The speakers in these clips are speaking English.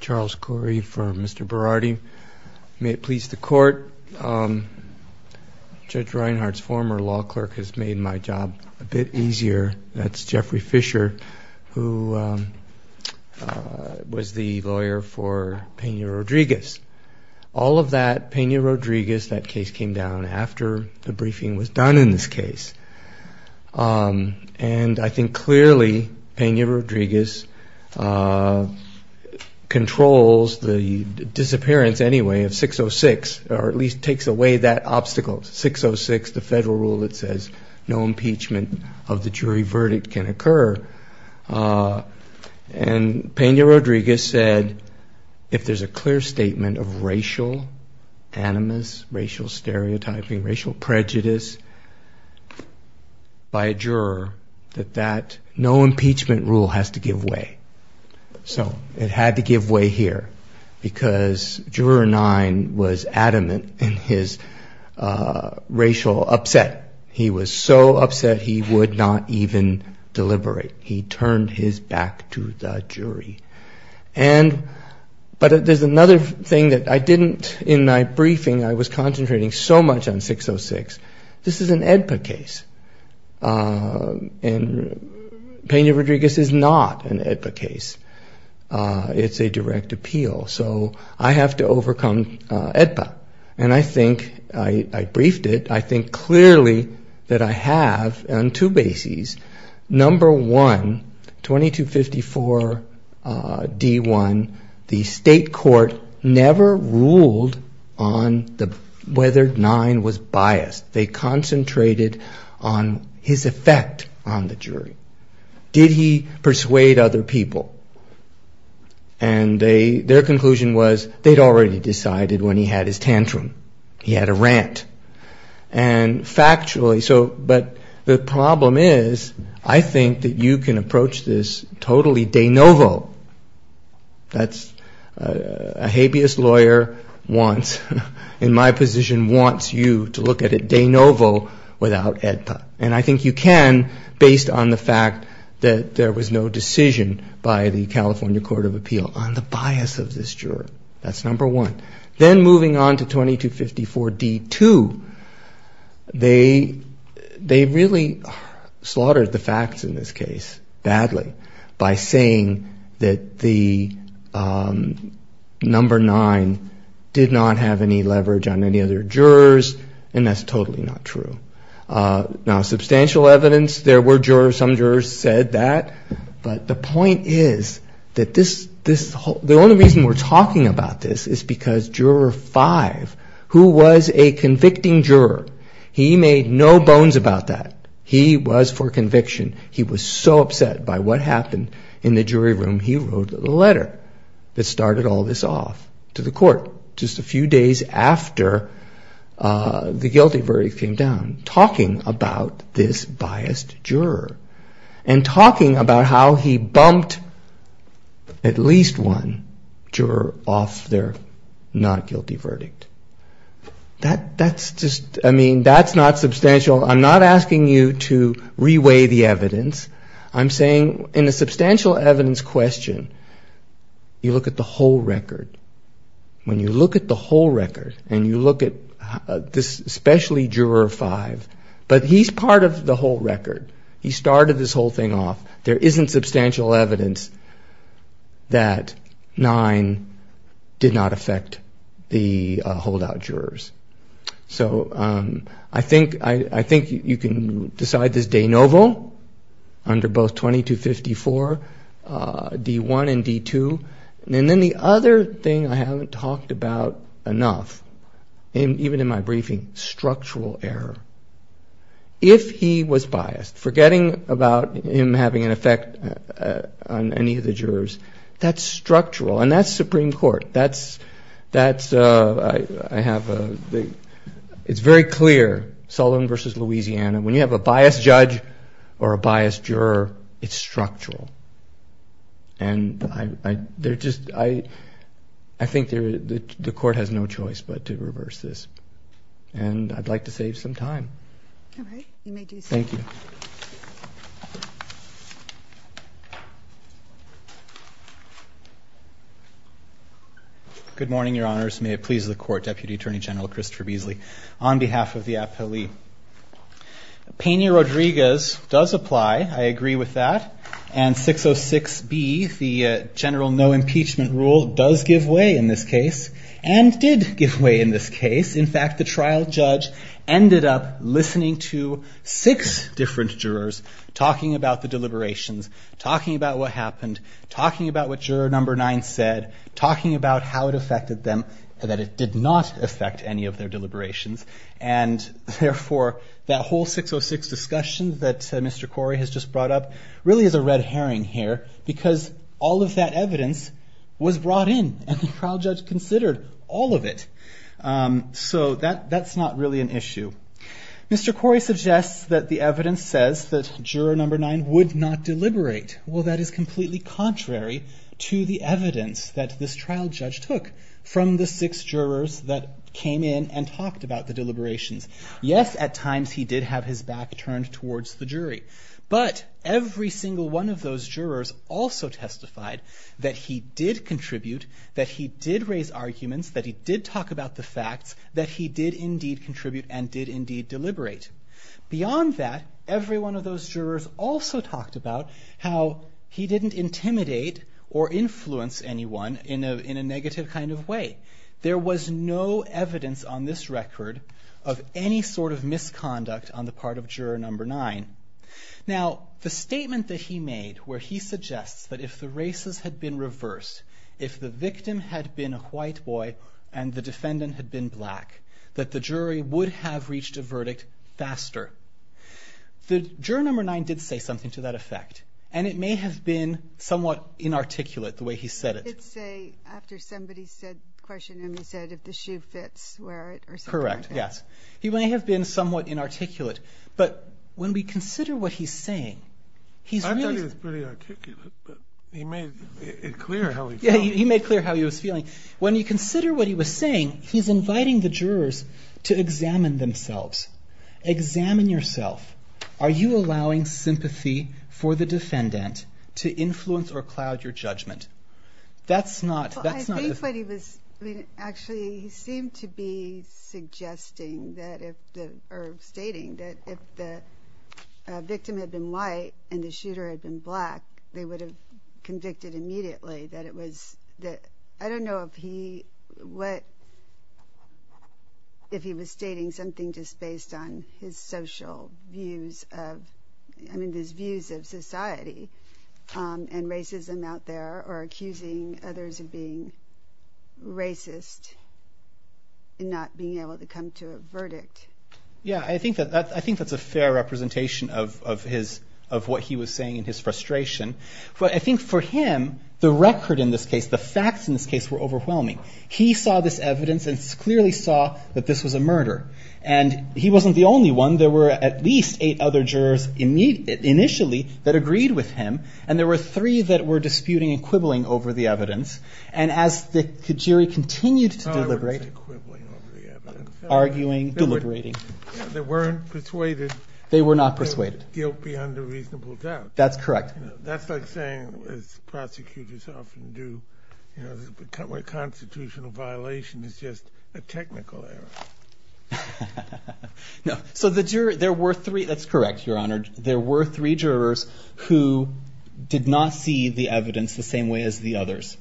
Charles Corey for Mr. Berardi. May it please the court, Judge Reinhardt's former law clerk has made my job a bit easier. That's Jeffrey Fisher who was the lawyer for Pena Rodriguez. All of that, Pena Rodriguez, that case came down after the briefing was done in this case. And I think clearly Pena Rodriguez controls the disappearance anyway of 606, or at least takes away that obstacle. 606, the federal rule that says no impeachment of the jury verdict can occur. And Pena Rodriguez said if there's a clear statement of racial animus, racial stereotyping, racial prejudice by a juror, that no impeachment rule has to give way. So it had to give way here because Juror 9 was adamant in his racial upset. He was so upset he would not even deliberate. He turned his back to the jury. But there's another thing that I didn't, in my briefing I was so much on 606. This is an AEDPA case and Pena Rodriguez is not an AEDPA case. It's a direct appeal. So I have to overcome AEDPA. And I think, I briefed it, I think clearly that I have on two bases. Number one, 2254 D1, the state court never ruled on whether 9 was biased. They concentrated on his effect on the jury. Did he persuade other people? And their conclusion was they'd already decided when he had his tantrum. He had a rant. And factually, but the problem is, I think that you can approach this totally de novo. That's, a habeas lawyer wants, in my position, wants you to look at it de novo without AEDPA. And I think you can based on the fact that there was no decision by the California Court of Appeal on the bias of this juror. That's number one. Then moving on to 2254 D2, they really slaughtered the facts in this case badly by saying that the number nine did not have any leverage on any other jurors. And that's totally not true. Now substantial evidence, there were jurors, some jurors said that. But the point is that this, the only reason we're talking about this is because he was a convicting juror. He made no bones about that. He was for conviction. He was so upset by what happened in the jury room, he wrote a letter that started all this off to the court just a few days after the guilty verdict came down, talking about this biased juror. And talking about how he bumped at least one juror off their not guilty verdict. That's just, I mean, that's not substantial. I'm not asking you to re-weigh the evidence. I'm saying in a substantial evidence question, you look at the whole record. When you look at the whole record, and you look at this especially juror five, but he's part of the whole record. He started this whole thing off. There isn't substantial evidence that nine did not affect the holdout jurors. So I think you can decide this de novo under both 2254, D1 and D2. And then the other thing I haven't talked about enough, and even in my briefing, structural error. If he was biased, forgetting about him having an effect on any of the jurors, that's structural. And that's Supreme Court. It's very clear, Sullivan versus Louisiana, when you have a biased judge or a biased juror, it's structural. And I think the court has no choice but to reverse this. And I'd like to save some time. All right, you may do so. Thank you. Good morning, your honors. May it please the court, Deputy Attorney General Christopher Beasley, on behalf of the appellee. Peña-Rodriguez does apply. I agree with that. And 606B, the general no impeachment rule, does give way in this case, and did give way in this case. In fact, the trial judge ended up talking to six different jurors, talking about the deliberations, talking about what happened, talking about what juror number nine said, talking about how it affected them, and that it did not affect any of their deliberations. And therefore, that whole 606 discussion that Mr. Corey has just brought up, really is a red herring here, because all of that evidence was brought in, and the trial judge considered all of it. So that's not really an issue. Mr. Corey suggests that the evidence says that juror number nine would not deliberate. Well, that is completely contrary to the evidence that this trial judge took from the six jurors that came in and talked about the deliberations. Yes, at times he did have his back turned towards the jury, but every single one of those jurors also testified that he did contribute, that he did raise arguments, that he did talk about the facts, that he did indeed contribute and did indeed deliberate. Beyond that, every one of those jurors also talked about how he didn't intimidate or influence anyone in a negative kind of way. There was no evidence on this record of any sort of misconduct on the part of juror number nine. Now, the statement that he made, where he suggests that if the races had been reversed, if the victim had been a white boy and the defendant had been black, that the jury would have reached a verdict faster. Juror number nine did say something to that effect, and it may have been somewhat inarticulate, the way he said it. He did say, after somebody questioned him, he said, if the shoe fits, wear it, or something like that. Correct, yes. He may have been somewhat inarticulate, but when we consider what he's saying, he's really... He made it clear how he felt. Yeah, he made clear how he was feeling. When you consider what he was saying, he's inviting the jurors to examine themselves. Examine yourself. Are you allowing sympathy for the defendant to influence or cloud your judgment? That's not... Well, I think what he was... Actually, he seemed to be suggesting that, or stating, that if the victim had been white and the shooter had been black, they would have convicted immediately, that it was... I don't know if he was stating something just based on his social views of... I mean, his views of society and racism out there, or accusing others of being racist, and not being able to come to a verdict. Yeah, I think that's a fair representation of what he was saying in his frustration. But I think for him, the record in this case, the facts in this case were overwhelming. He saw this evidence and clearly saw that this was a murder. And he wasn't the only one. There were at least eight other jurors initially that agreed with him, and there were three that were disputing and quibbling over the evidence. And as the jury continued to deliberate... No, I wouldn't say quibbling over the evidence. Arguing, deliberating. They weren't persuaded. They were not persuaded. Guilt beyond a reasonable doubt. That's correct. That's like saying, as prosecutors often do, a constitutional violation is just a technical error. No, so there were three... That's correct, Your Honor. There were three jurors who did not see the evidence the same way as the others.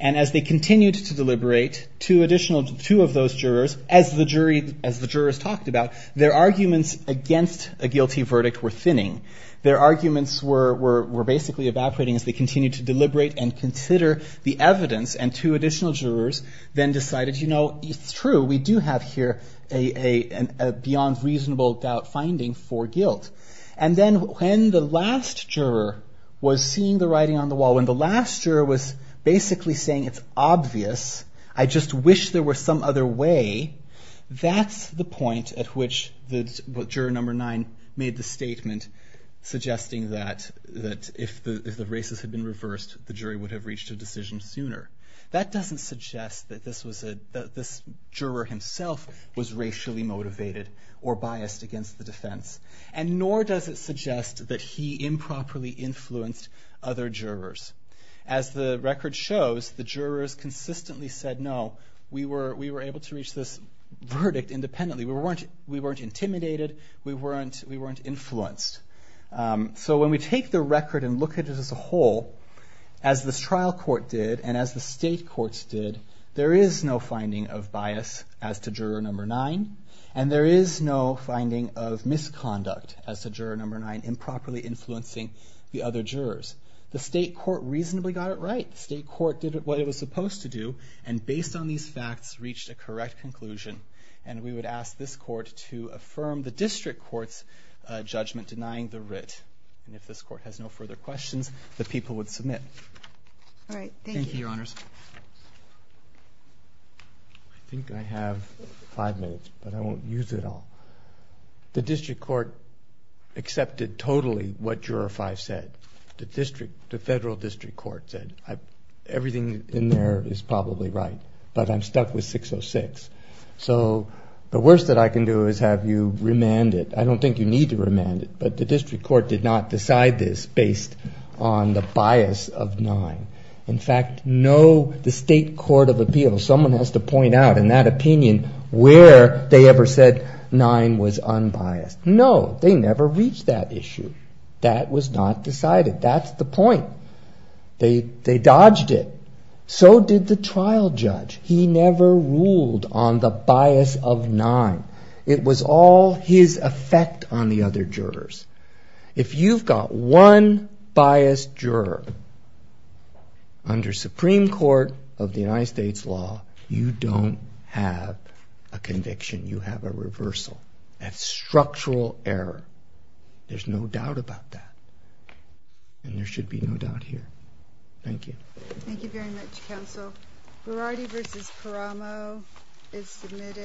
And as they continued to deliberate, two additional... Two of those jurors, as the jurors talked about, their arguments against a guilty verdict were thinning. Their arguments were basically evaporating as they continued to deliberate and consider the evidence. And two additional jurors then decided, you know, it's true. We do have here a beyond reasonable doubt finding for guilt. And then when the last juror was seeing the writing on the wall, when the last juror was basically saying it's obvious, I just wish there were some other way, that's the point at which juror number nine made the statement suggesting that if the races had been reversed, the jury would have reached a decision sooner. That doesn't suggest that this juror himself was racially motivated or biased against the defense, and nor does it suggest that he improperly influenced other jurors. As the record shows, the jurors consistently said, no, we were able to verdict independently. We weren't intimidated. We weren't influenced. So when we take the record and look at it as a whole, as this trial court did and as the state courts did, there is no finding of bias as to juror number nine, and there is no finding of misconduct as to juror number nine improperly influencing the other jurors. The state court reasonably got it right. The state court did what it was supposed to do. And based on these facts, reached a correct conclusion. And we would ask this court to affirm the district court's judgment denying the writ. And if this court has no further questions, the people would submit. All right. Thank you, Your Honors. I think I have five minutes, but I won't use it all. The district court accepted totally what juror five said. The district, the federal district court said everything in there is probably right, but I'm stuck with 606. So the worst that I can do is have you remand it. I don't think you need to remand it. But the district court did not decide this based on the bias of nine. In fact, no, the state court of appeals, someone has to point out in that opinion where they ever said nine was unbiased. No, they never reached that issue. That was not decided. That's the point. They dodged it. So did the trial judge. He never ruled on the bias of nine. It was all his effect on the other jurors. If you've got one biased juror under Supreme Court of the United States law, you don't have a conviction. You have a reversal. That's structural error. There's no doubt about that and there should be no doubt here. Thank you. Thank you very much. Counsel. Variety versus Caramo is submitted.